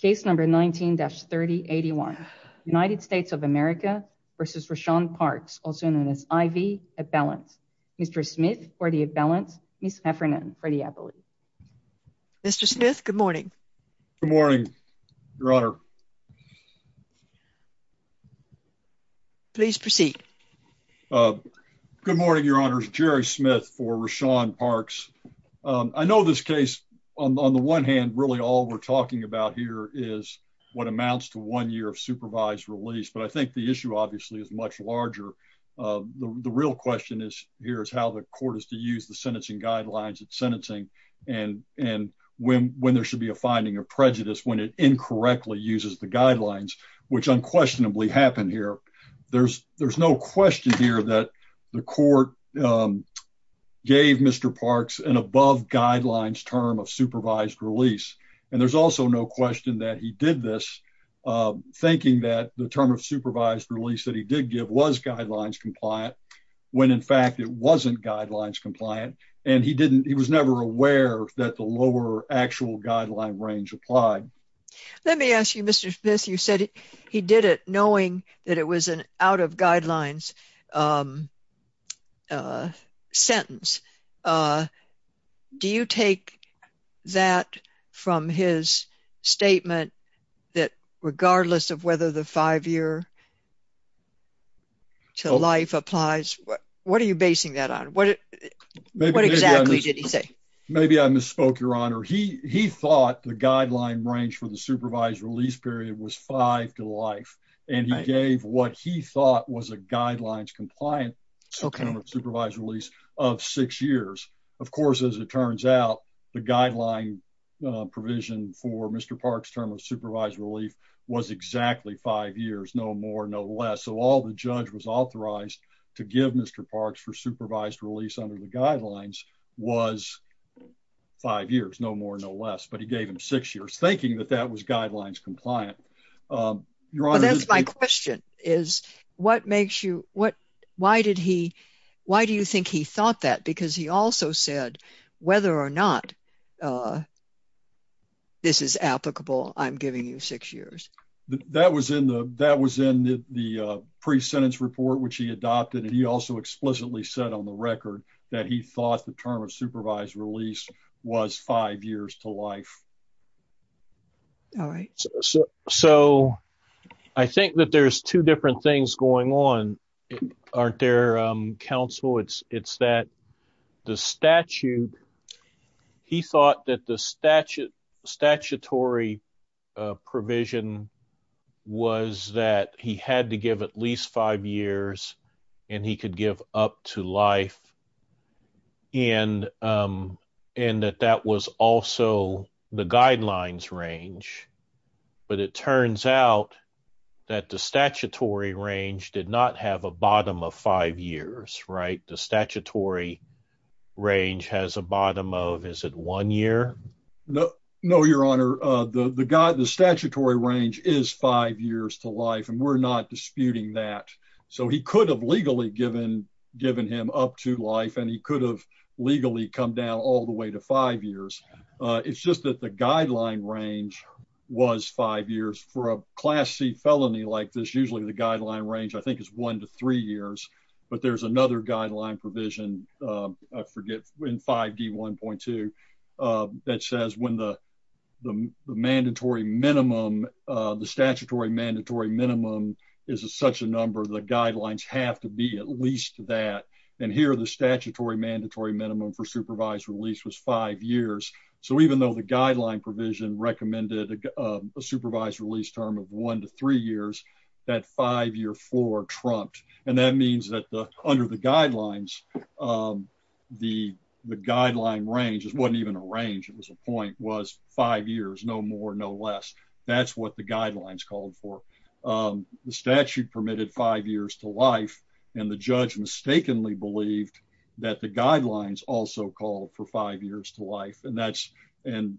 case number 19-3081 United States of America versus Rashaun Parks also known as IV at balance. Mr. Smith for the at balance, Ms. Heffernan for the appellate. Mr. Smith, good morning. Good morning, Your Honor. Please proceed. Good morning, Your Honor. Jerry Smith for Rashaun Parks. I know this case on the one hand really all we're talking about here is what amounts to one year of supervised release. But I think the issue obviously is much larger. The real question is, here's how the court is to use the sentencing guidelines at sentencing. And and when when there should be a finding of prejudice when it incorrectly uses the guidelines, which unquestionably happened here. There's there's no question here that the court gave Mr. Parks and above guidelines term of And there's also no question that he did this, thinking that the term of supervised release that he did give was guidelines compliant, when in fact, it wasn't guidelines compliant. And he didn't he was never aware that the lower actual guideline range applied. Let me ask you, Mr. Smith, you said he did it knowing that it was an out of his statement, that regardless of whether the five year to life applies, what are you basing that on? What? What exactly did he say? Maybe I misspoke, Your Honor, he he thought the guideline range for the supervised release period was five to life. And I gave what he thought was a guidelines compliant. So kind of supervised release of six years. Of guideline provision for Mr. Parks term of supervised relief was exactly five years, no more, no less. So all the judge was authorized to give Mr. Parks for supervised release under the guidelines was five years, no more, no less, but he gave him six years thinking that that was guidelines compliant. Your Honor, that's my question is, what makes you what? Why did he? Why do you think he thought that? Because he also said, whether or not this is applicable, I'm giving you six years. That was in the that was in the pre sentence report, which he adopted. And he also explicitly said on the record that he thought the term of supervised release was five years to life. All right. So I think that there's two different things going on. Aren't there counsel? It's it's that the statute, he thought that the statute statutory provision was that he had to give at least five years, and he could give up to life. And, and that that was also the guidelines range. But it turns out that the statutory range did not have a bottom of five years, right? The statutory range has a bottom of is it one year? No, no, Your Honor, the God, the statutory range is five years to life, and we're not disputing that. So he could have legally given, given him up to life, and he could have legally come down all the way to five years. It's just that the guideline range was five years for a class C felony like this, usually the guideline range, I think is one to three years. But there's another guideline provision. I forget when 5d 1.2 that says when the the mandatory minimum, the statutory mandatory minimum is a such a number, the guidelines have to be at least that. And here the statutory mandatory minimum for supervised release was five years. So even though the guideline provision recommended a supervised release term of one to three years, that five year for trumped, and that means that the under the guidelines, the guideline range is wasn't even a range. It was a point was five years, no more, no less. That's what the guidelines called for. The statute permitted five years to life, and the so called for five years to life. And that's and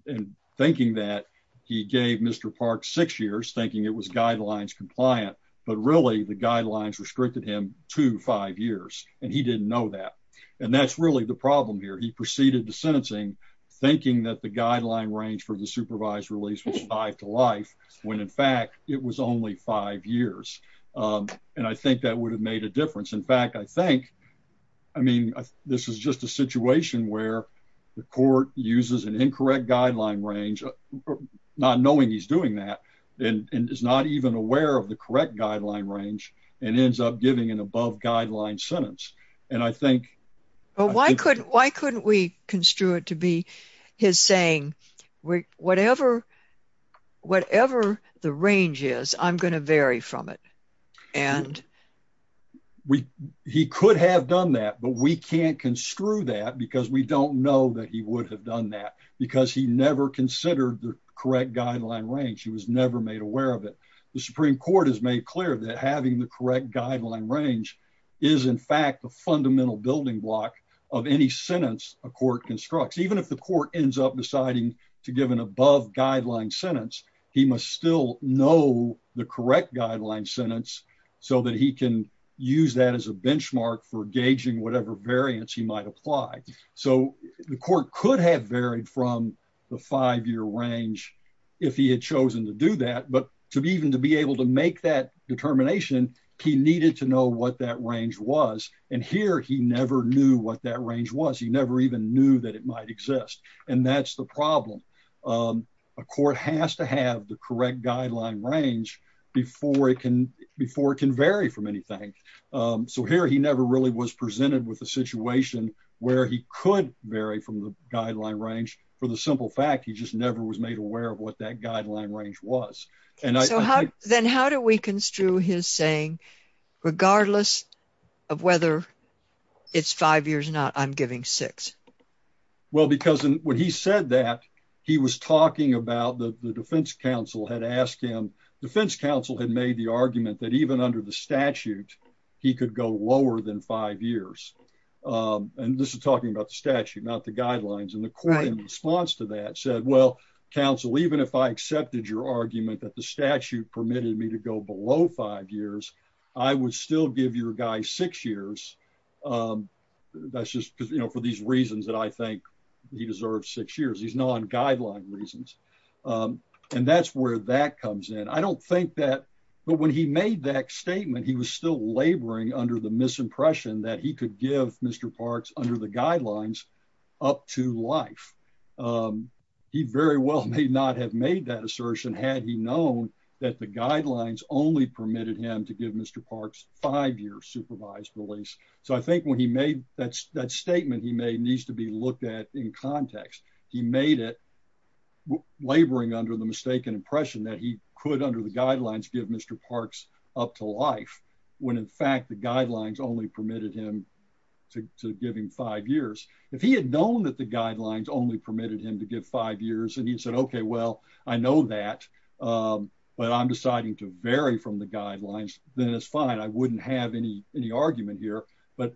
thinking that he gave Mr Park six years thinking it was guidelines compliant. But really, the guidelines restricted him to five years, and he didn't know that. And that's really the problem here. He proceeded to sentencing, thinking that the guideline range for the supervised release was five to life when, in fact, it was only five years. Um, and I think that would have made a difference. In I mean, this is just a situation where the court uses an incorrect guideline range, not knowing he's doing that and is not even aware of the correct guideline range and ends up giving an above guideline sentence. And I think well, why couldn't Why couldn't we construe it to be his saying? Whatever? Whatever the range is, I'm going to vary from it. And we he could have done that. But we can't construe that because we don't know that he would have done that because he never considered the correct guideline range. He was never made aware of it. The Supreme Court has made clear that having the correct guideline range is, in fact, the fundamental building block of any sentence a court constructs, even if the court ends up deciding to give an above guideline sentence, he must still know the correct guideline sentence so that he can use that as a benchmark for gauging whatever variance he might apply. So the court could have varied from the five year range if he had chosen to do that. But to be even to be able to make that determination, he needed to know what that range was. And here he never knew what that range was. He never even knew that it might exist. And that's the problem. A court has to have the correct guideline range before it can before it can vary from anything. So here he never really was presented with a situation where he could vary from the guideline range for the simple fact he just never was made aware of what that guideline range was. And so how then how do we construe his saying, regardless of whether it's five years or not, I'm giving six? Well, because when he said that, he was talking about the defense counsel had asked him, defense counsel had made the argument that even under the statute, he could go lower than five years. And this is talking about the statute, not the guidelines. And the court in response to that said, well, counsel, even if I would still give you a guy six years. Um, that's just because, you know, for these reasons that I think he deserves six years, he's not on guideline reasons. Um, and that's where that comes in. I don't think that. But when he made that statement, he was still laboring under the misimpression that he could give Mr Parks under the guidelines up to life. Um, he very well may not have made that assertion. Had he known that the guidelines only permitted him to give Mr Parks five years supervised release. So I think when he made that statement, he may needs to be looked at in context. He made it laboring under the mistaken impression that he could, under the guidelines, give Mr Parks up to life when, in fact, the guidelines only permitted him to give him five years. If he had known that the guidelines only permitted him to give five years, and he said, Okay, well, I know that. Um, but I'm deciding to vary from the guidelines. Then it's fine. I wouldn't have any any argument here. But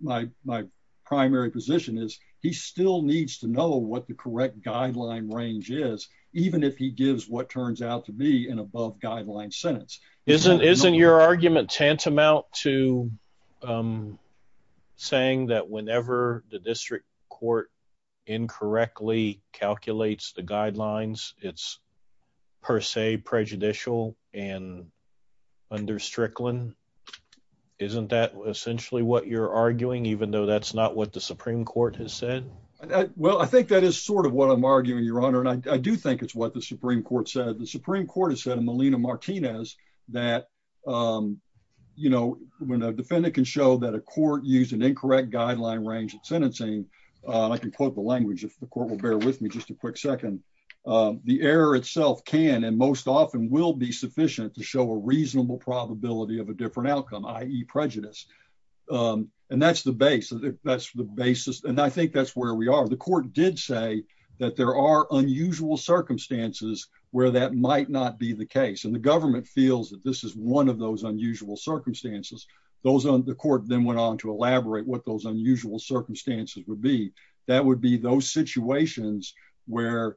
my primary position is he still needs to know what the correct guideline range is, even if he gives what turns out to be an above guideline sentence. Isn't isn't your argument tantamount to, um, saying that whenever the district court incorrectly calculates the guidelines, it's per se prejudicial and under Strickland. Isn't that essentially what you're arguing, even though that's not what the Supreme Court has said? Well, I think that is sort of what I'm arguing, Your Honor, and I do think it's what the Supreme Court said. The Supreme Court has said in Molina Martinez that, um, you know, when a defendant can show that a court used an incorrect guideline range of sentencing, I can quote the language if the court will bear with me just a quick second. The error itself can and most often will be sufficient to show a reasonable probability of a different outcome, i.e. prejudice. Um, and that's the base. That's the basis. And I think that's where we are. The court did say that there are unusual circumstances where that might not be the case, and the government feels that this is one of those unusual circumstances. Those on the court then went on to elaborate what those unusual circumstances would be. That would be those situations where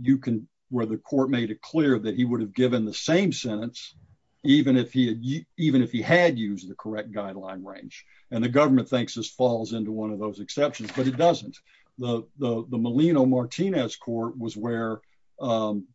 you can, where the court made it clear that he would have given the same sentence even if he even if he had used the correct guideline range, and the government thinks this falls into one of those exceptions. But it doesn't. The Molina Martinez court was where, um,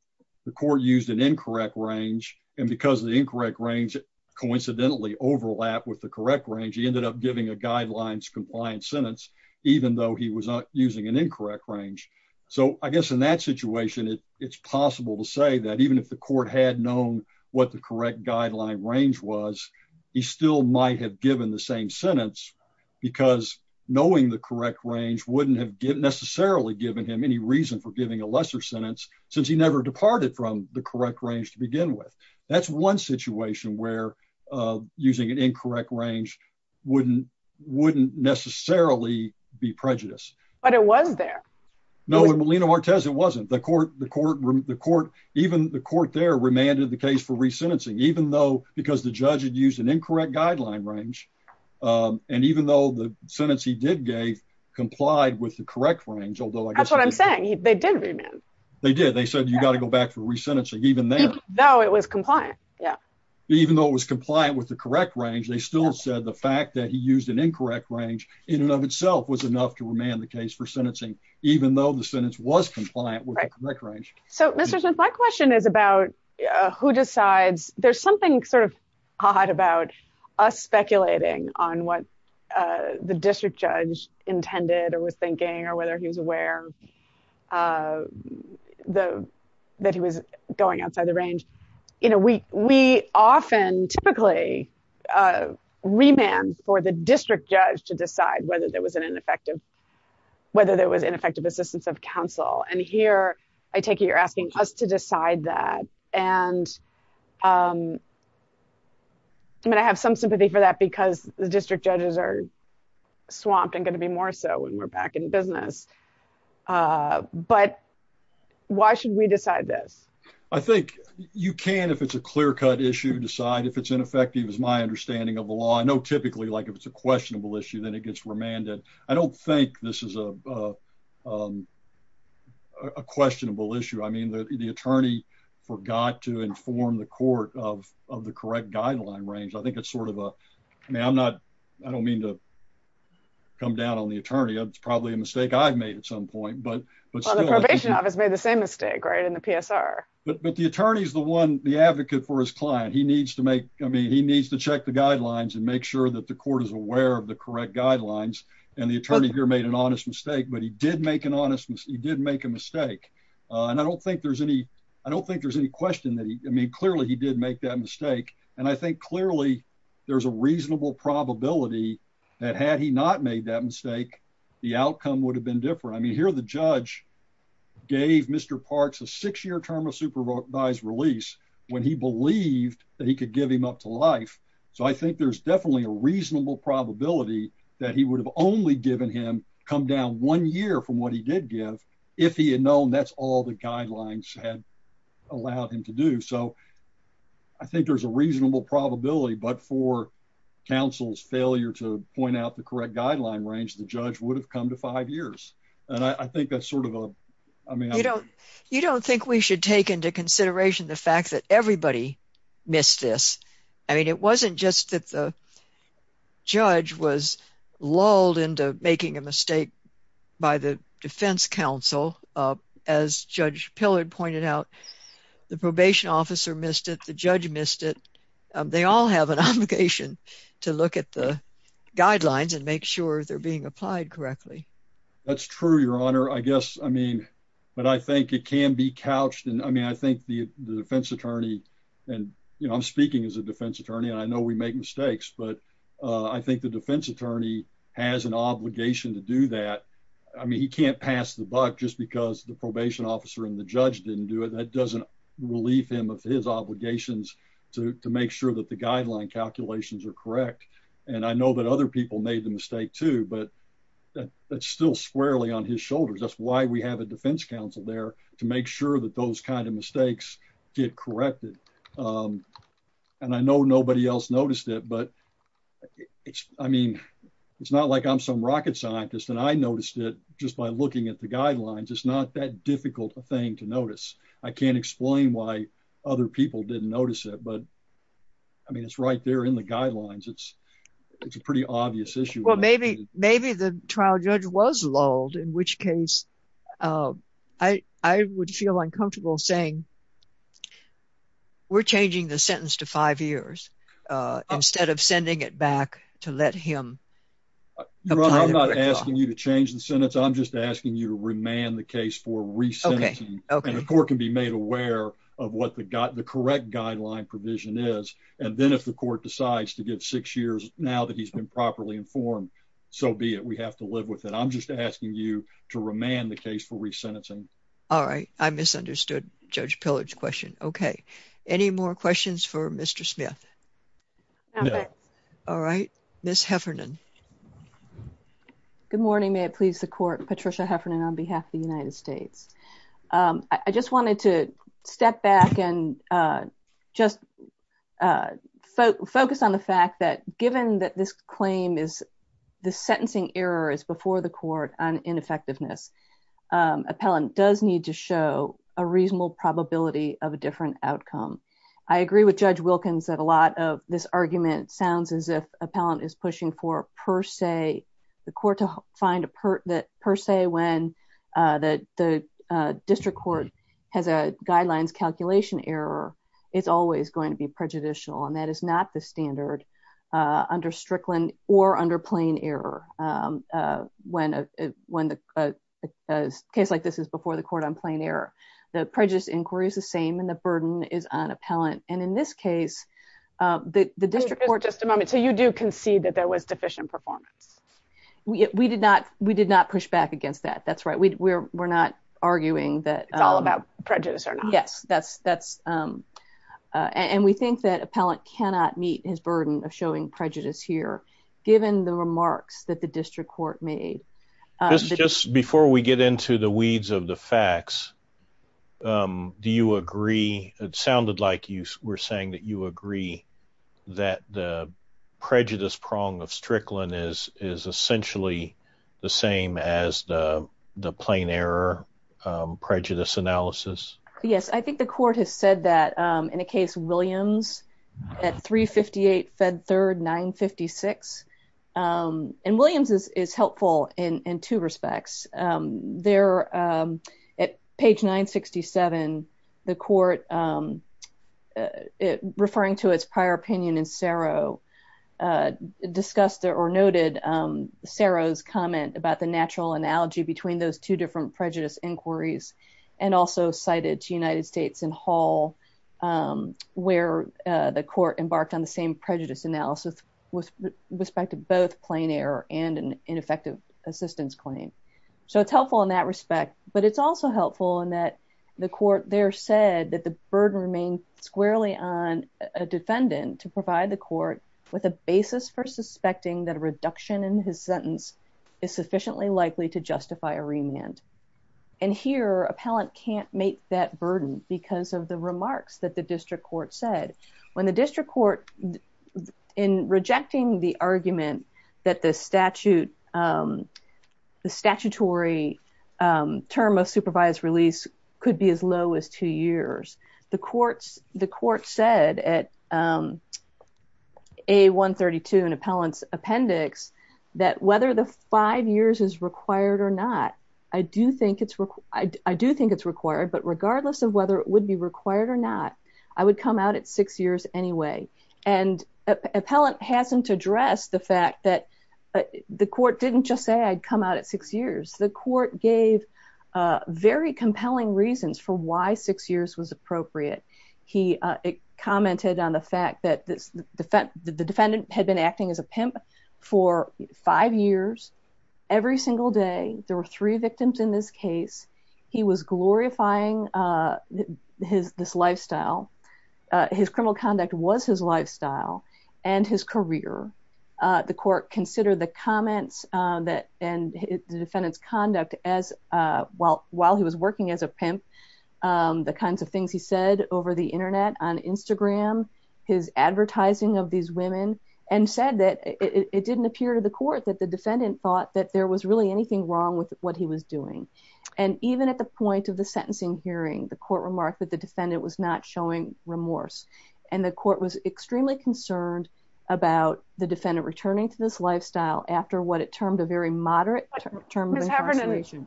the court used an incorrect range, and because the incorrect range coincidentally overlap with the correct range, he ended up giving a guidelines compliance sentence, even though he was not using an incorrect range. So I guess in that situation, it's possible to say that even if the court had known what the correct guideline range was, he still might have given the same sentence because knowing the correct range wouldn't have given necessarily given him any reason for giving a lesser sentence since he never departed from the correct range to begin with. That's one situation where using an incorrect range wouldn't wouldn't necessarily be prejudiced. But it was there. No, Molina Martinez. It wasn't the court. The court, the court. Even the court there remanded the case for resentencing, even though because the judge had used an incorrect guideline range, um, and even though the sentence he did gave complied with the correct range, although that's what I'm saying. They did. They did. They said you got to go back for resentencing, even though it was compliant. Yeah, even though it was compliant with the correct range, they still said the fact that he used an incorrect range in and of itself was enough to remand the case for sentencing, even though the sentence was compliant with the correct range. So, Mr Smith, my question is about who decides there's something sort of hot about us speculating on what the district judge intended or was that he was going outside the range. You know, we we often typically, uh, remand for the district judge to decide whether there was an ineffective, whether there was ineffective assistance of counsel. And here I take it you're asking us to decide that. And, um, I mean, I have some sympathy for that because the district judges are swamped and gonna be more so when we're back in business. Uh, but why should we decide this? I think you can, if it's a clear cut issue, decide if it's ineffective is my understanding of the law. I know. Typically, like if it's a questionable issue, then it gets remanded. I don't think this is a, um, a questionable issue. I mean, the attorney forgot to inform the court of the correct guideline range. I think it's sort of a man. I'm not. I don't mean toe come down on the attorney. It's probably a mistake I've made at some are. But the attorney is the one the advocate for his client. He needs to make. I mean, he needs to check the guidelines and make sure that the court is aware of the correct guidelines. And the attorney here made an honest mistake. But he did make an honest. He did make a mistake on. I don't think there's any. I don't think there's any question that I mean, clearly, he did make that mistake. And I think clearly there's a reasonable probability that had he not made that mistake, the outcome would have been different. I term of supervised release when he believed that he could give him up to life. So I think there's definitely a reasonable probability that he would have only given him come down one year from what he did give if he had known that's all the guidelines had allowed him to do so. I think there's a reasonable probability. But for counsel's failure to point out the correct guideline range, the judge would have come to five years. And I take into consideration the fact that everybody missed this. I mean, it wasn't just that the judge was lulled into making a mistake by the Defense Council. As Judge Pillard pointed out, the probation officer missed it. The judge missed it. They all have an obligation to look at the guidelines and make sure they're being applied correctly. That's true, Your Honor. I guess. I mean, but I think it can be couched. And I mean, I think the defense attorney and I'm speaking as a defense attorney. I know we make mistakes, but I think the defense attorney has an obligation to do that. I mean, he can't pass the buck just because the probation officer and the judge didn't do it. That doesn't relieve him of his obligations to make sure that the guideline calculations are correct. And I know that other people made the But that's still squarely on his shoulders. That's why we have a defense council there to make sure that those kind of mistakes get corrected. Um, and I know nobody else noticed it, but it's I mean, it's not like I'm some rocket scientist and I noticed it just by looking at the guidelines. It's not that difficult a thing to notice. I can't explain why other people didn't notice it, but I mean, it's right there in the guidelines. It's it's a pretty obvious issue. Maybe maybe the trial judge was lulled, in which case, uh, I would feel uncomfortable saying we're changing the sentence to five years instead of sending it back to let him. I'm not asking you to change the sentence. I'm just asking you to remand the case for recent court can be made aware of what the got the correct guideline provision is. And then if the court decides to give six years now that he's been properly informed, so be it. We have to live with it. I'm just asking you to remand the case for resentencing. All right. I misunderstood Judge Pillard's question. Okay. Any more questions for Mr Smith? All right, Miss Heffernan. Good morning. May it please the court Patricia Heffernan on behalf of the United States. Um, I just wanted to step back and, uh, just, uh, focus on the fact that given that this claim is the sentencing error is before the court on ineffectiveness. Um, appellant does need to show a reasonable probability of a different outcome. I agree with Judge Wilkins that a lot of this argument sounds as if appellant is pushing for, per se, the court to find a part that per se, when, uh, that the district court has a guidelines calculation error, it's always going to be prejudicial, and that is not the standard, uh, under Strickland or under plain error. Um, when, uh, when the, uh, case like this is before the court on plain error, the prejudice inquiry is the same, and the burden is on appellant. And in this case, the district court... Just a moment. So you do concede that there was deficient performance? We did not. We did not push back against that. That's right. We're not arguing that... It's all about prejudice or not. Yes, that's, that's, um, uh, and we think that appellant cannot meet his burden of showing prejudice here, given the remarks that the district court made. This is just before we get into the weeds of the facts. Um, do you agree? It sounded like you were saying that you agree that the prejudice prong of Strickland is essentially the same as the plain error, um, prejudice analysis. Yes, I think the court has said that, um, in a case Williams at 358 Fed Third 956, um, and Williams is helpful in two respects. Um, there, um, at page 967, the court, um, uh, referring to its prior opinion in Cerro, uh, discussed or noted, um, Cerro's comment about the natural prejudice inquiries and also cited to United States in Hall, um, where, uh, the court embarked on the same prejudice analysis with respect to both plain error and ineffective assistance claim. So it's helpful in that respect, but it's also helpful in that the court there said that the burden remained squarely on a defendant to provide the court with a basis for suspecting that a reduction in his sentence is sufficiently likely to justify a demand. And here, appellant can't make that burden because of the remarks that the district court said when the district court in rejecting the argument that the statute, um, the statutory, um, term of supervised release could be as low as two years. The courts, the court said at, um, a 1 32 and appellants appendix that whether the five years is required or not, I do think it's I do think it's required, but regardless of whether it would be required or not, I would come out at six years anyway. And appellant hasn't addressed the fact that the court didn't just say I'd come out at six years. The court gave very compelling reasons for why six years was appropriate. He commented on the fact that the defendant had been acting as a pimp for five years every single day. There were three victims in this case. He was glorifying, uh, his this lifestyle. His criminal conduct was his lifestyle and his career. The court considered the comments that and the defendant's conduct as, uh, while while he was working as a pimp, um, the kinds of things he said over the Internet on Instagram, his advertising of these women and said that it didn't appear to the court that the defendant thought that there was really anything wrong with what he was doing. And even at the point of the sentencing hearing, the court remarked that the defendant was not showing remorse, and the court was extremely concerned about the defendant returning to this lifestyle after what it termed a very moderate term term.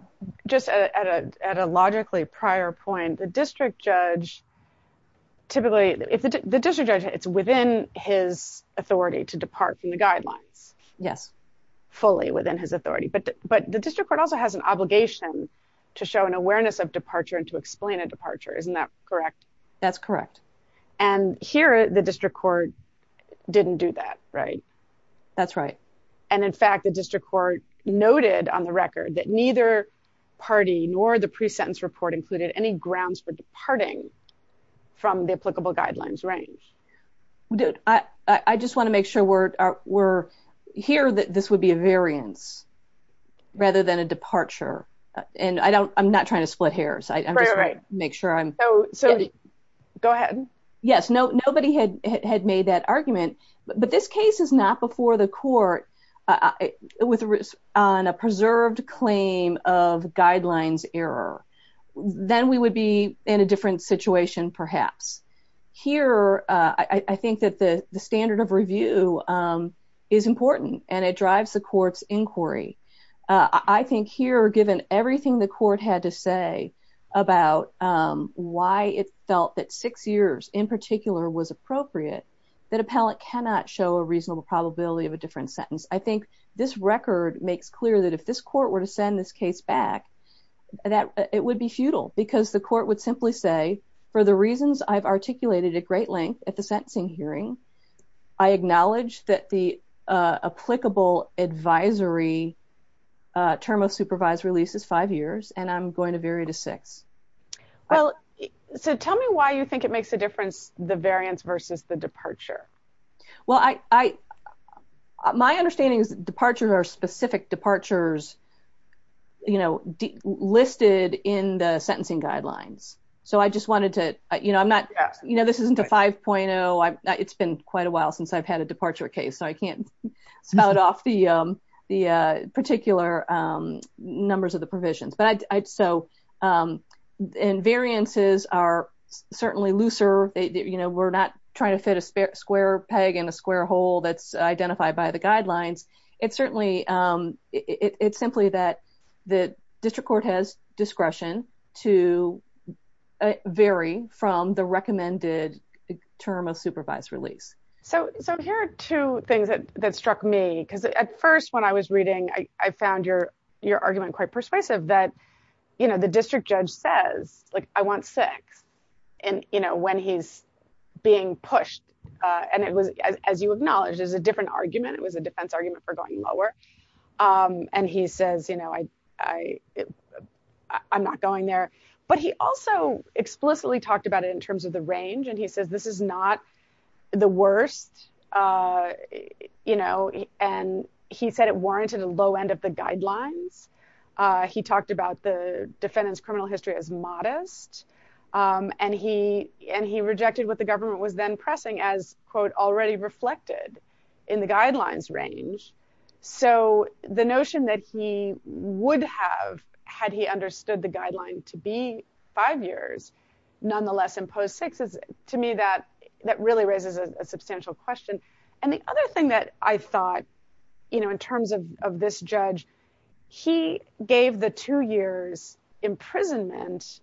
Just at a logically prior point, the district judge typically if the district judge, it's within his authority to depart from the guidelines. Yes, fully within his authority. But but the district court also has an obligation to show an awareness of departure and to explain a departure. Isn't that correct? That's correct. And here the district court didn't do that, right? That's right. And in fact, the district court noted on the record that neither party nor the pre sentence report included any grounds for guidelines range. Dude, I just want to make sure we're, we're here that this would be a variance, rather than a departure. And I don't I'm not trying to split hairs. I make sure I'm so so go ahead. Yes, no, nobody had had made that argument. But this case is not before the court with a risk on a preserved claim of guidelines error, then we would be in a different situation, perhaps. Here, I think that the standard of review is important, and it drives the court's inquiry. I think here, given everything the court had to say about why it felt that six years in particular was appropriate, that appellate cannot show a reasonable probability of a different sentence. I think this record makes clear that if this court were to send this case back, that it would be futile, because the court would simply say, for the reasons I've articulated at great length at the sentencing hearing, I acknowledge that the applicable advisory term of supervised release is five years, and I'm going to vary to six. Well, so tell me why you think it makes a difference the variance versus the departures, you know, listed in the sentencing guidelines. So I just wanted to, you know, I'm not, you know, this isn't a 5.0. It's been quite a while since I've had a departure case. So I can't spell it off the, the particular numbers of the provisions, but I'd so in variances are certainly looser, you know, we're not trying to fit a square peg in a square hole that's identified by the guidelines. It's certainly, it's simply that the district court has discretion to vary from the recommended term of supervised release. So here are two things that struck me, because at first when I was reading, I found your, your argument quite persuasive that, you know, the district judge says, like, I want six. And, you know, when he's being pushed, and it was a defense argument for going lower. And he says, you know, I, I, I'm not going there. But he also explicitly talked about it in terms of the range. And he says, this is not the worst. You know, and he said it warranted a low end of the guidelines. He talked about the defendant's criminal history as modest. And he and he rejected what the government was then pressing as, quote, already reflected in the guidelines range. So the notion that he would have had he understood the guideline to be five years, nonetheless, imposed six is to me that that really raises a substantial question. And the other thing that I thought, you know, in terms of this judge, he gave the two years imprisonment,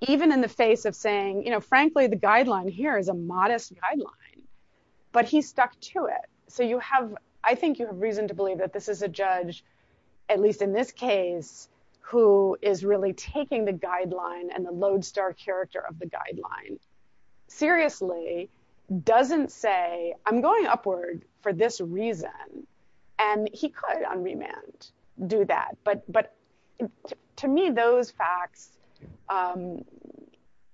even in the face of saying, you know, frankly, the guideline here is modest guideline, but he stuck to it. So you have, I think you have reason to believe that this is a judge, at least in this case, who is really taking the guideline and the lodestar character of the guideline, seriously, doesn't say I'm going upward for this reason. And he could on remand do that. But But, to me, those facts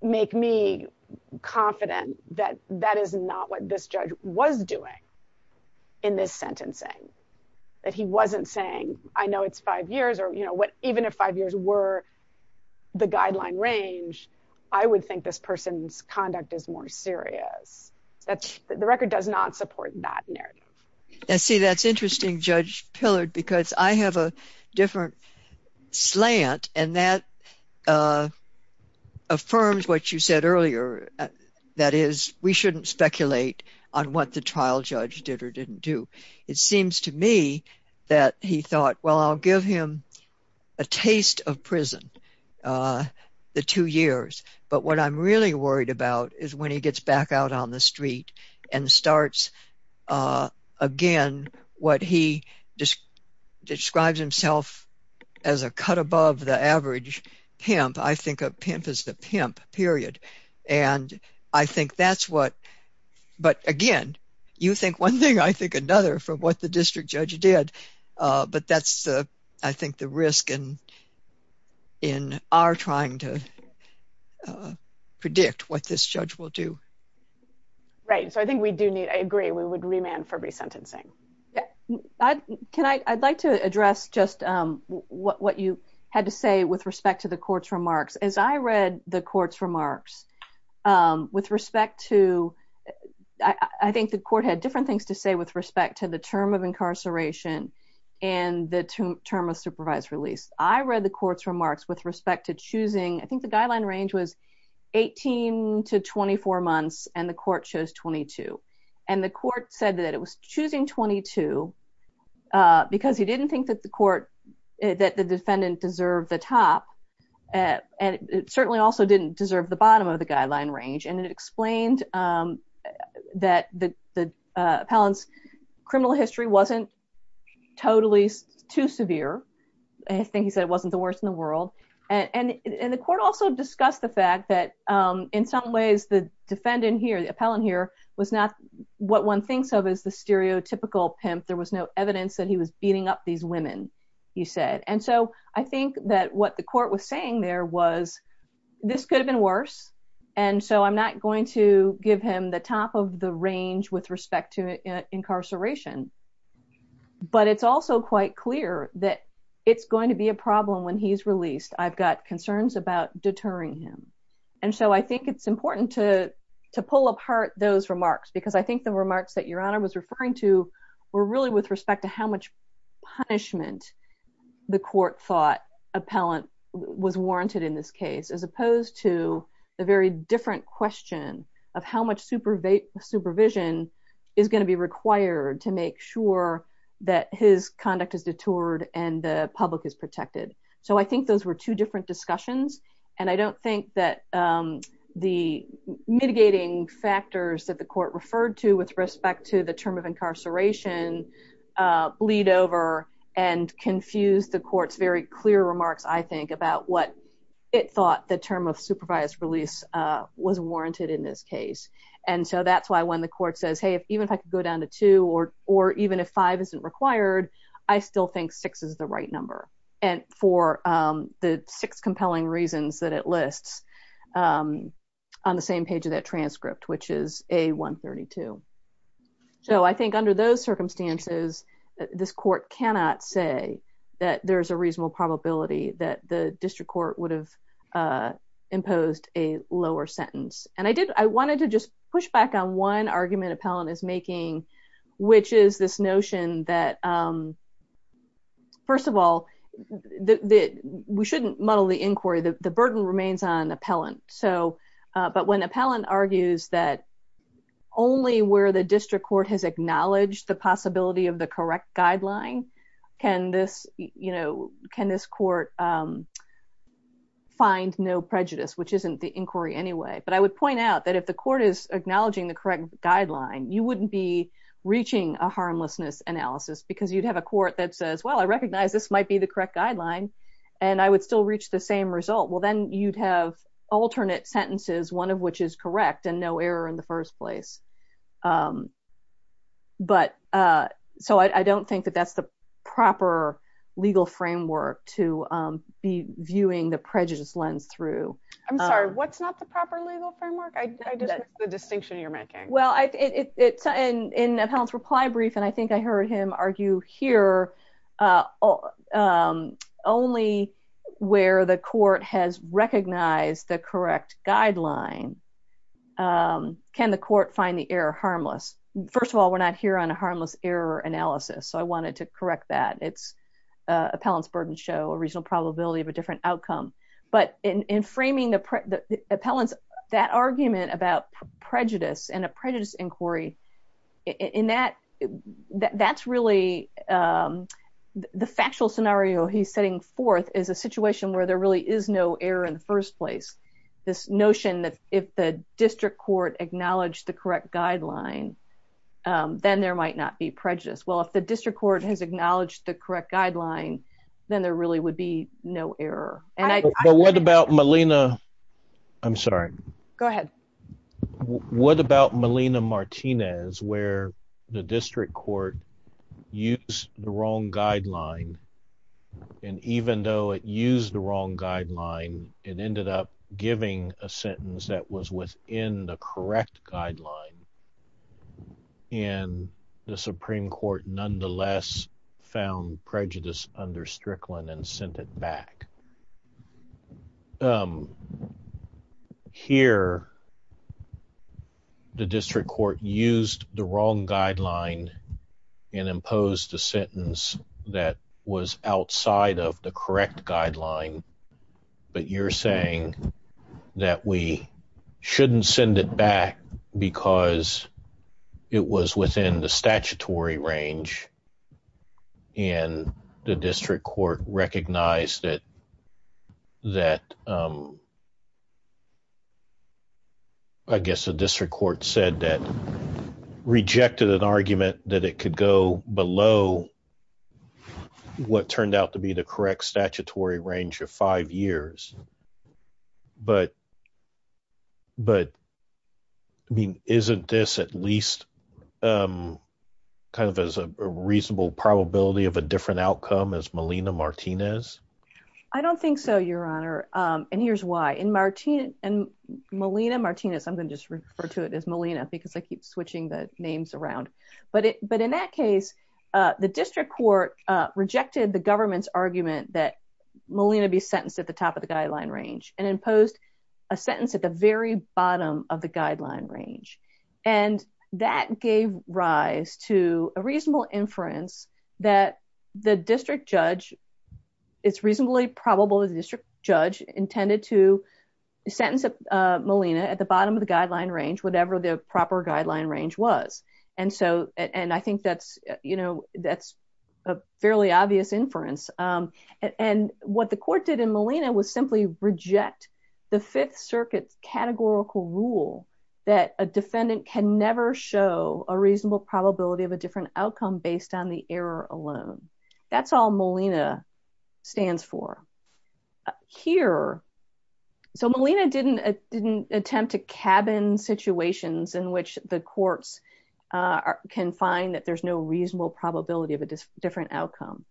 make me confident that that is not what this judge was doing in this sentencing, that he wasn't saying, I know, it's five years, or, you know, what, even if five years were the guideline range, I would think this person's conduct is more serious. That's the record does not support that narrative. See, that's interesting, Judge pillared, because I have a different slant. And that affirms what you said earlier. That is, we shouldn't speculate on what the trial judge did or didn't do. It seems to me that he thought, well, I'll give him a taste of prison. The two years, but what I'm really worried about is when he gets back out on the street, and starts, again, what he just describes himself as a cut above the average pimp, I think a pimp is the pimp period. And I think that's what but again, you think one thing, I think another for what the district judge did. But that's, I think the risk and in our trying to predict what this will do. Right. So I think we do need I agree, we would remand for resentencing. Can I I'd like to address just what you had to say with respect to the court's remarks, as I read the court's remarks, with respect to, I think the court had different things to say with respect to the term of incarceration. And the term of supervised release, I read the court's 24 months, and the court chose 22. And the court said that it was choosing 22. Because he didn't think that the court, that the defendant deserved the top. And it certainly also didn't deserve the bottom of the guideline range. And it explained that the appellant's criminal history wasn't totally too severe. I think he said it wasn't worse in the world. And the court also discussed the fact that, in some ways, the defendant here, the appellant here was not what one thinks of as the stereotypical pimp, there was no evidence that he was beating up these women, he said. And so I think that what the court was saying there was, this could have been worse. And so I'm not going to give him the top of the range with respect to I've got concerns about deterring him. And so I think it's important to pull apart those remarks, because I think the remarks that Your Honor was referring to, were really with respect to how much punishment the court thought appellant was warranted in this case, as opposed to the very different question of how much supervision is going to be required to make sure that his conduct is detoured and the public is protected. So I think those were two different discussions. And I don't think that the mitigating factors that the court referred to with respect to the term of incarceration, bleed over and confuse the court's very clear remarks, I think about what it thought the term of supervised release was warranted in this case. And so that's why when the court says, hey, if even if I could go down to two, or, or even if five isn't required, I still think six is the right number. And for the six compelling reasons that it lists on the same page of that transcript, which is a 132. So I think under those circumstances, this court cannot say that there's a reasonable probability that the district court would have lower sentence. And I did, I wanted to just push back on one argument appellant is making, which is this notion that, first of all, that we shouldn't muddle the inquiry, the burden remains on appellant. So, but when appellant argues that only where the district court has acknowledged the possibility of the correct guideline, can this, you know, can this court find no prejudice, which isn't the inquiry anyway, but I would point out that if the court is acknowledging the correct guideline, you wouldn't be reaching a harmlessness analysis, because you'd have a court that says, well, I recognize this might be the correct guideline. And I would still reach the same result. Well, then you'd have alternate sentences, one of which is correct and no error in the first place. But so I don't think that that's the proper legal framework to be viewing the prejudice lens through. I'm sorry, what's not the proper legal framework? I just missed the distinction you're making. Well, it's in appellant's reply brief, and I think I heard him argue here, only where the court has recognized the correct guideline, can the court find the error harmless? First of all, we're not here on a harmless error analysis. So I wanted to correct that. It's appellant's burden show, a reasonable probability of a different outcome. But in framing the appellants, that argument about prejudice and a prejudice inquiry, in that, that's really the factual scenario he's setting forth is a situation where there really is no error in the first place. This notion that if the district court acknowledged the correct guideline, then there might not be prejudice. Well, if the district court has acknowledged the correct guideline, then there really would be no error. And I- But what about Melina? I'm sorry. Go ahead. What about Melina Martinez, where the district court used the wrong guideline, and even though it used the wrong guideline, it ended up giving a sentence that was within the and the Supreme Court nonetheless found prejudice under Strickland and sent it back. Here, the district court used the wrong guideline and imposed a sentence that was outside of the it was within the statutory range. And the district court recognized that, that I guess the district court said that rejected an argument that it could go below what turned out to be the correct statutory range of five years. But, but, I mean, isn't this at least kind of as a reasonable probability of a different outcome as Melina Martinez? I don't think so, Your Honor. And here's why. In Martin and Melina Martinez, I'm going to just refer to it as Melina because I keep switching the names around. But it but in that case, the district court rejected the government's argument that Melina be sentenced at the top of the guideline range and imposed a sentence at the very bottom of the guideline range. And that gave rise to a reasonable inference that the district judge, it's reasonably probable the district judge intended to sentence Melina at the bottom of the guideline range, whatever the proper guideline range was. And so, and I think that's, you know, that's a fairly obvious inference. And what the court did in Melina was simply reject the Fifth Circuit's categorical rule that a defendant can never show a reasonable probability of a different outcome based on the error alone. That's all Melina stands for. Here, so Melina didn't, didn't attempt to cabin situations in which the courts can find that there's no reasonable probability of a different outcome.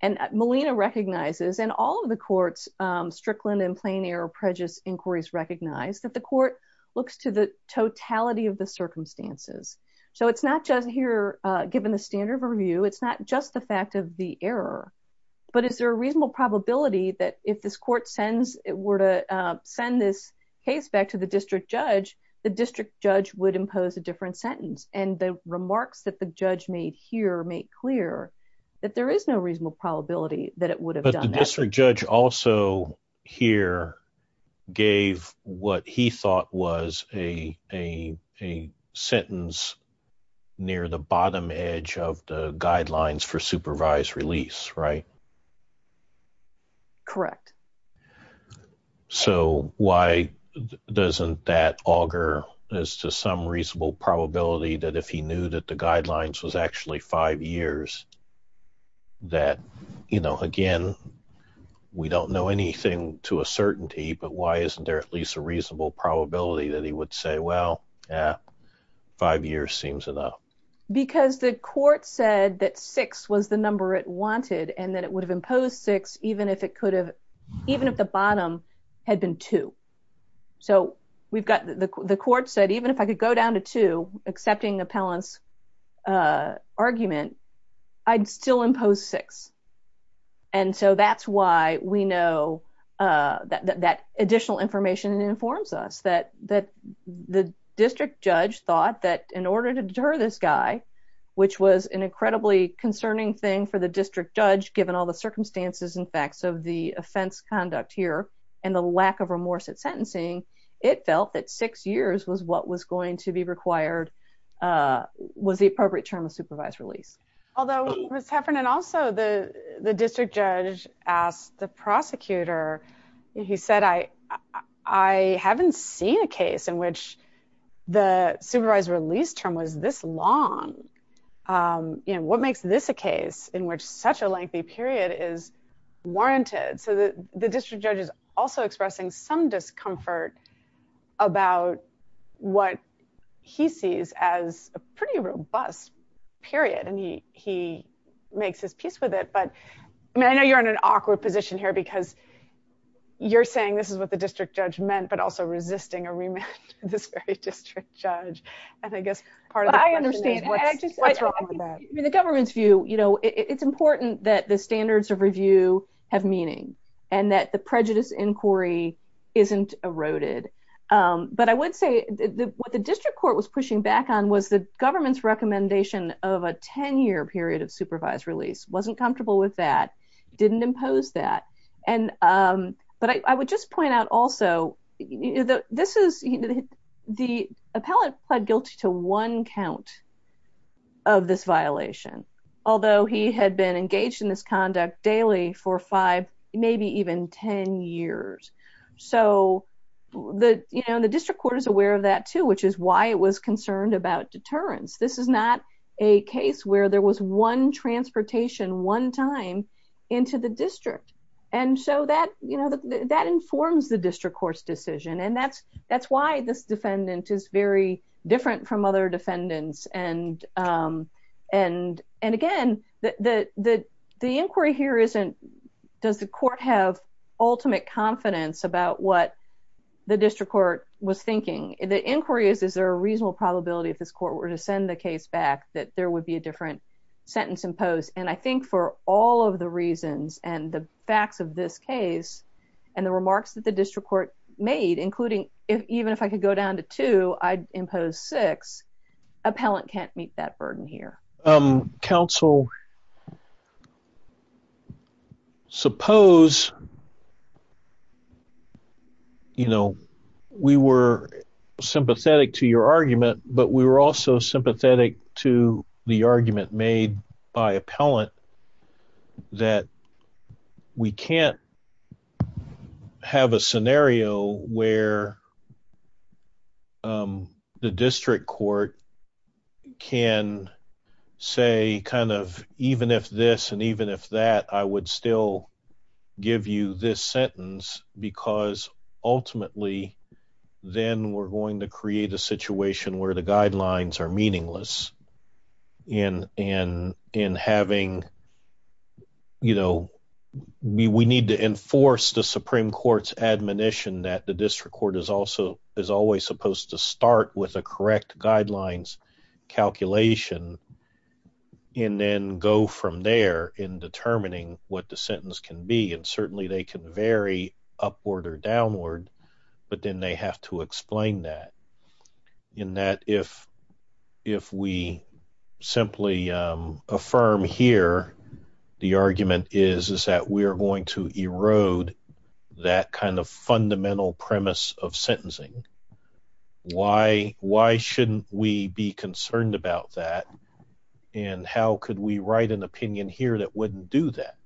And Melina recognizes and all of the courts, Strickland and Plain Air prejudice inquiries recognize that the court looks to the totality of the circumstances. So it's not just here, given the standard of review, it's not just the fact of the error. But is there a reasonable probability that if this court sends it were to send this case back to the district judge, the district judge would impose a different sentence and the remarks that the judge made here make clear that there is no reasonable probability that it would have done that. But the district judge also here gave what he thought was a sentence near the bottom edge of the guidelines for supervised release, right? Correct. So why doesn't that augur as to some reasonable probability that if he knew that the guidelines was actually five years, that, you know, again, we don't know anything to a certainty, but why isn't there at least a reasonable probability that he would say, well, yeah, five years seems enough. Because the court said that six was the number it wanted, and that it would have imposed six, even if it could have, even if the bottom had been two. So we've got the court said, if I could go down to two, accepting appellant's argument, I'd still impose six. And so that's why we know that additional information informs us that the district judge thought that in order to deter this guy, which was an incredibly concerning thing for the district judge, given all the circumstances and facts of the offense conduct here, and the lack of remorse at sentencing, it felt that six years was what was going to be required, was the appropriate term of supervised release. Although Ms. Heffernan, also the district judge asked the prosecutor, he said, I haven't seen a case in which the supervised release term was this long. You know, what makes this a case in which such a lengthy period is warranted? So the district judge is also expressing some discomfort about what he sees as a pretty robust period, and he makes his peace with it. But I mean, I know you're in an awkward position here, because you're saying this is what the district judge meant, but also resisting a remand to this very district judge. And I guess part of the question is what's wrong with that? In the government's view, you know, it's important that the standards of review have meaning, and that the prejudice inquiry isn't eroded. But I would say what the district court was pushing back on was the government's recommendation of a 10-year period of supervised release, wasn't comfortable with that, didn't impose that. But I would just point out also, this is, the appellate pled guilty to one count of this violation, although he had been engaged in this conduct daily for five, maybe even 10 years. So the, you know, the district court is aware of that too, which is why it was concerned about deterrence. This is not a case where there was one transportation one time into the district. And so that, you know, that informs the district court's decision. And that's, that's why this defendant is very different from other defendants. And again, the inquiry here isn't, does the court have ultimate confidence about what the district court was thinking? The inquiry is, is there a reasonable probability if this court were to send the case back that there would be a different sentence imposed? And I think for all of the reasons and the facts of this case, and the remarks that the district court made, even if I could go down to two, I'd impose six, appellant can't meet that burden here. Counsel, suppose, you know, we were sympathetic to your argument, but we were also sympathetic to the argument made by appellant, that we can't have a scenario where the district court can say kind of, even if this, and even if that, I would still give you this sentence, because ultimately, then we're going to create a situation where the guidelines are meaningless. And, and, and having, you know, we need to enforce the Supreme Court's admonition that the district court is also, is always supposed to start with a correct guidelines calculation, and then go from there in determining what the sentence can be. And if we simply affirm here, the argument is, is that we're going to erode that kind of fundamental premise of sentencing. Why, why shouldn't we be concerned about that? And how could we write an opinion here that wouldn't do that?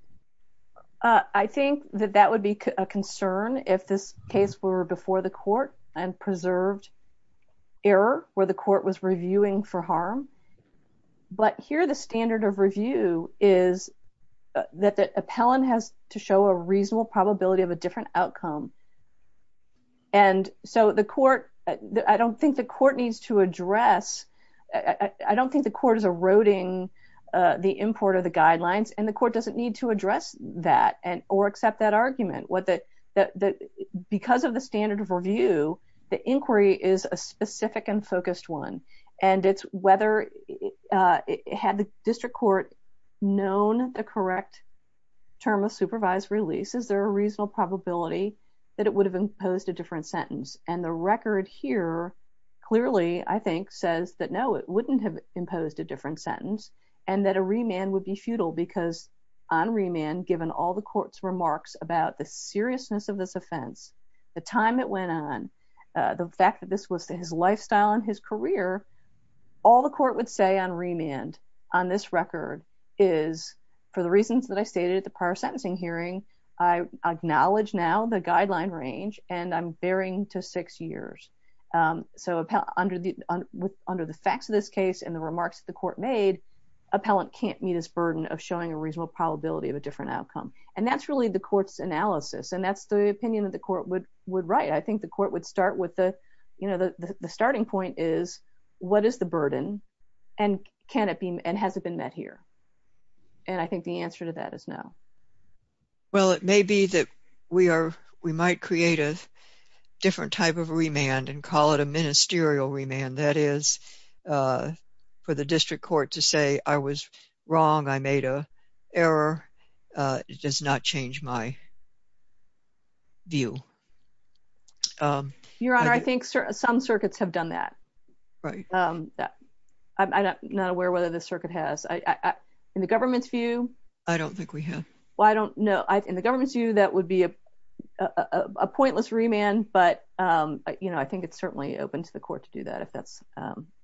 I think that that would be a concern if this case were before the court and preserved error, where the court was reviewing for harm. But here, the standard of review is that the appellant has to show a reasonable probability of a different outcome. And so the court, I don't think the court needs to address, I don't think the court is eroding the import of the guidelines, and the court doesn't need to address that and or accept that the inquiry is a specific and focused one. And it's whether it had the district court known the correct term of supervised release, is there a reasonable probability that it would have imposed a different sentence? And the record here, clearly, I think says that no, it wouldn't have imposed a different sentence, and that a remand would be futile because on remand, given all the court's remarks about the seriousness of this offense, the time it went on, the fact that this was his lifestyle and his career, all the court would say on remand on this record is, for the reasons that I stated at the prior sentencing hearing, I acknowledge now the guideline range, and I'm bearing to six years. So under the facts of this case, and the remarks the court made, appellant can't meet his burden of showing a reasonable probability of a different outcome. And that's really the court's analysis. And that's the would right, I think the court would start with the, you know, the starting point is, what is the burden? And can it be and hasn't been met here? And I think the answer to that is no. Well, it may be that we are, we might create a different type of remand and call it a ministerial remand, that is, for the district court to say, I was wrong, I made a error. It does not change my view. Your Honor, I think some circuits have done that. Right. I'm not aware whether the circuit has. In the government's view, I don't think we have. Well, I don't know. In the government's view, that would be a pointless remand. But, you know, I think it's certainly open to the court to do that if that's,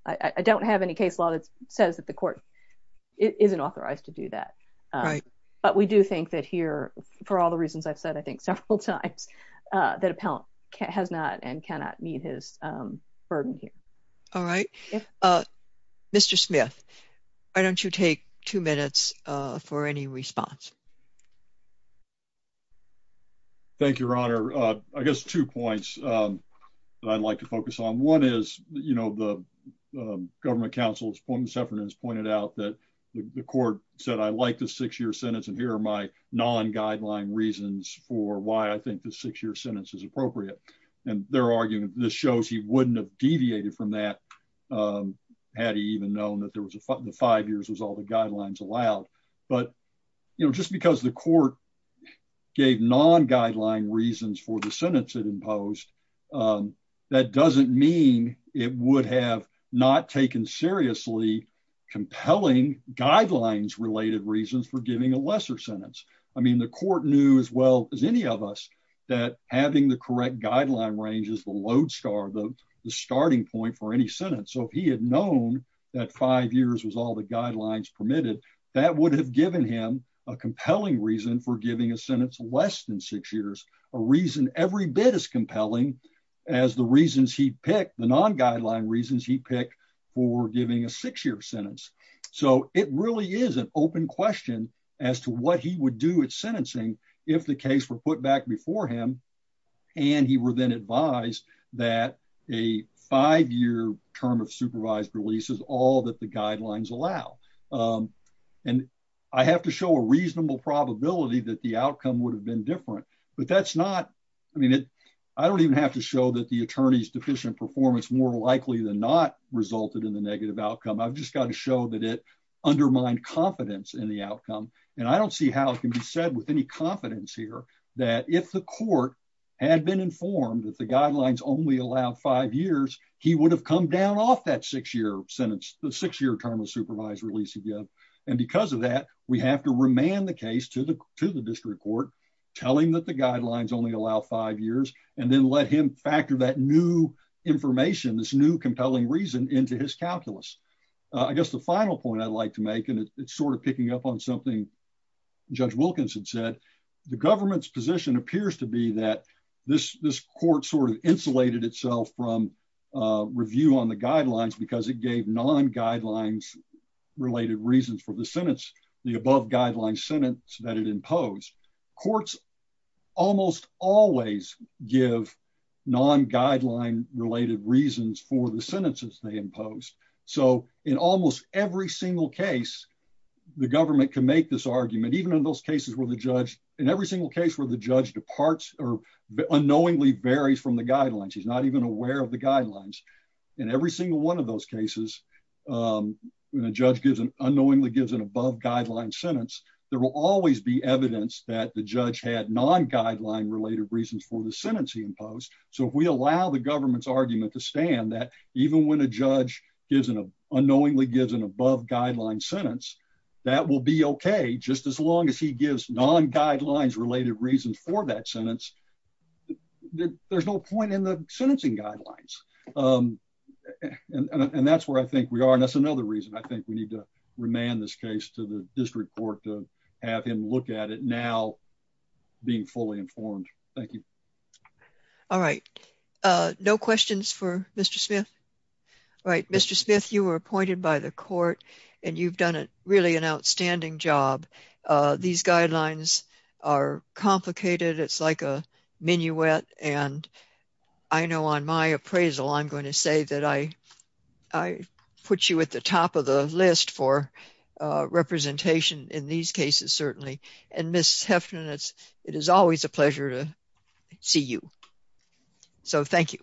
I don't have any case law that says that the court isn't authorized to do that. Right. But we do think that here, for all the reasons I've said, I think several times, that appellant has not and cannot meet his burden here. All right. Mr. Smith, why don't you take two minutes for any response? Thank you, Your Honor. I guess two points that I'd like to focus on. One is, you know, the six-year sentence, and here are my non-guideline reasons for why I think the six-year sentence is appropriate. And they're arguing this shows he wouldn't have deviated from that, had he even known that the five years was all the guidelines allowed. But, you know, just because the court gave non-guideline reasons for the sentence it imposed, that doesn't mean it would have not taken seriously compelling guidelines-related reasons for giving a lesser sentence. I mean, the court knew as well as any of us that having the correct guideline range is the load star, the starting point for any sentence. So if he had known that five years was all the guidelines permitted, that would have given him a compelling reason for giving a sentence less than six years, a reason every bit as compelling as the reasons he picked, the non-guideline reasons he picked for giving a six-year sentence. So it really is an open question as to what he would do with sentencing if the case were put back before him and he were then advised that a five-year term of supervised release is all that the guidelines allow. And I have to show a reasonable probability that the outcome would have been different, but that's not, I mean, I don't even have to show that the attorney's deficient performance more likely than not resulted in the negative outcome. I've just got to show that it undermined confidence in the outcome. And I don't see how it can be said with any confidence here that if the court had been informed that the guidelines only allowed five years, he would have come down off that six-year sentence, the six-year term of supervised release again. And because of that, we have to remand the case to the district court, telling that the guidelines only allow five years, and then let him factor that new information, this new compelling reason into his calculus. I guess the final point I'd like to make, and it's sort of picking up on something Judge Wilkins had said, the government's position appears to be that this court sort of insulated itself from review on the guidelines because it gave non-guidelines related reasons for the sentence, the above guideline sentence that it imposed. Courts almost always give non-guideline related reasons for the sentences they impose. So in almost every single case, the government can make this argument, even in those cases where the judge, in every single case where the judge departs or unknowingly varies from the cases, when a judge unknowingly gives an above guideline sentence, there will always be evidence that the judge had non-guideline related reasons for the sentence he imposed. So if we allow the government's argument to stand that even when a judge unknowingly gives an above guideline sentence, that will be okay, just as long as he gives non-guidelines related reasons for that and that's where I think we are, and that's another reason I think we need to remand this case to the district court to have him look at it now being fully informed. Thank you. All right, no questions for Mr. Smith? All right, Mr. Smith, you were appointed by the court and you've done a really an outstanding job. These guidelines are complicated, it's like a appraisal. I'm going to say that I put you at the top of the list for representation in these cases, certainly, and Ms. Heffner, it is always a pleasure to see you. So thank you.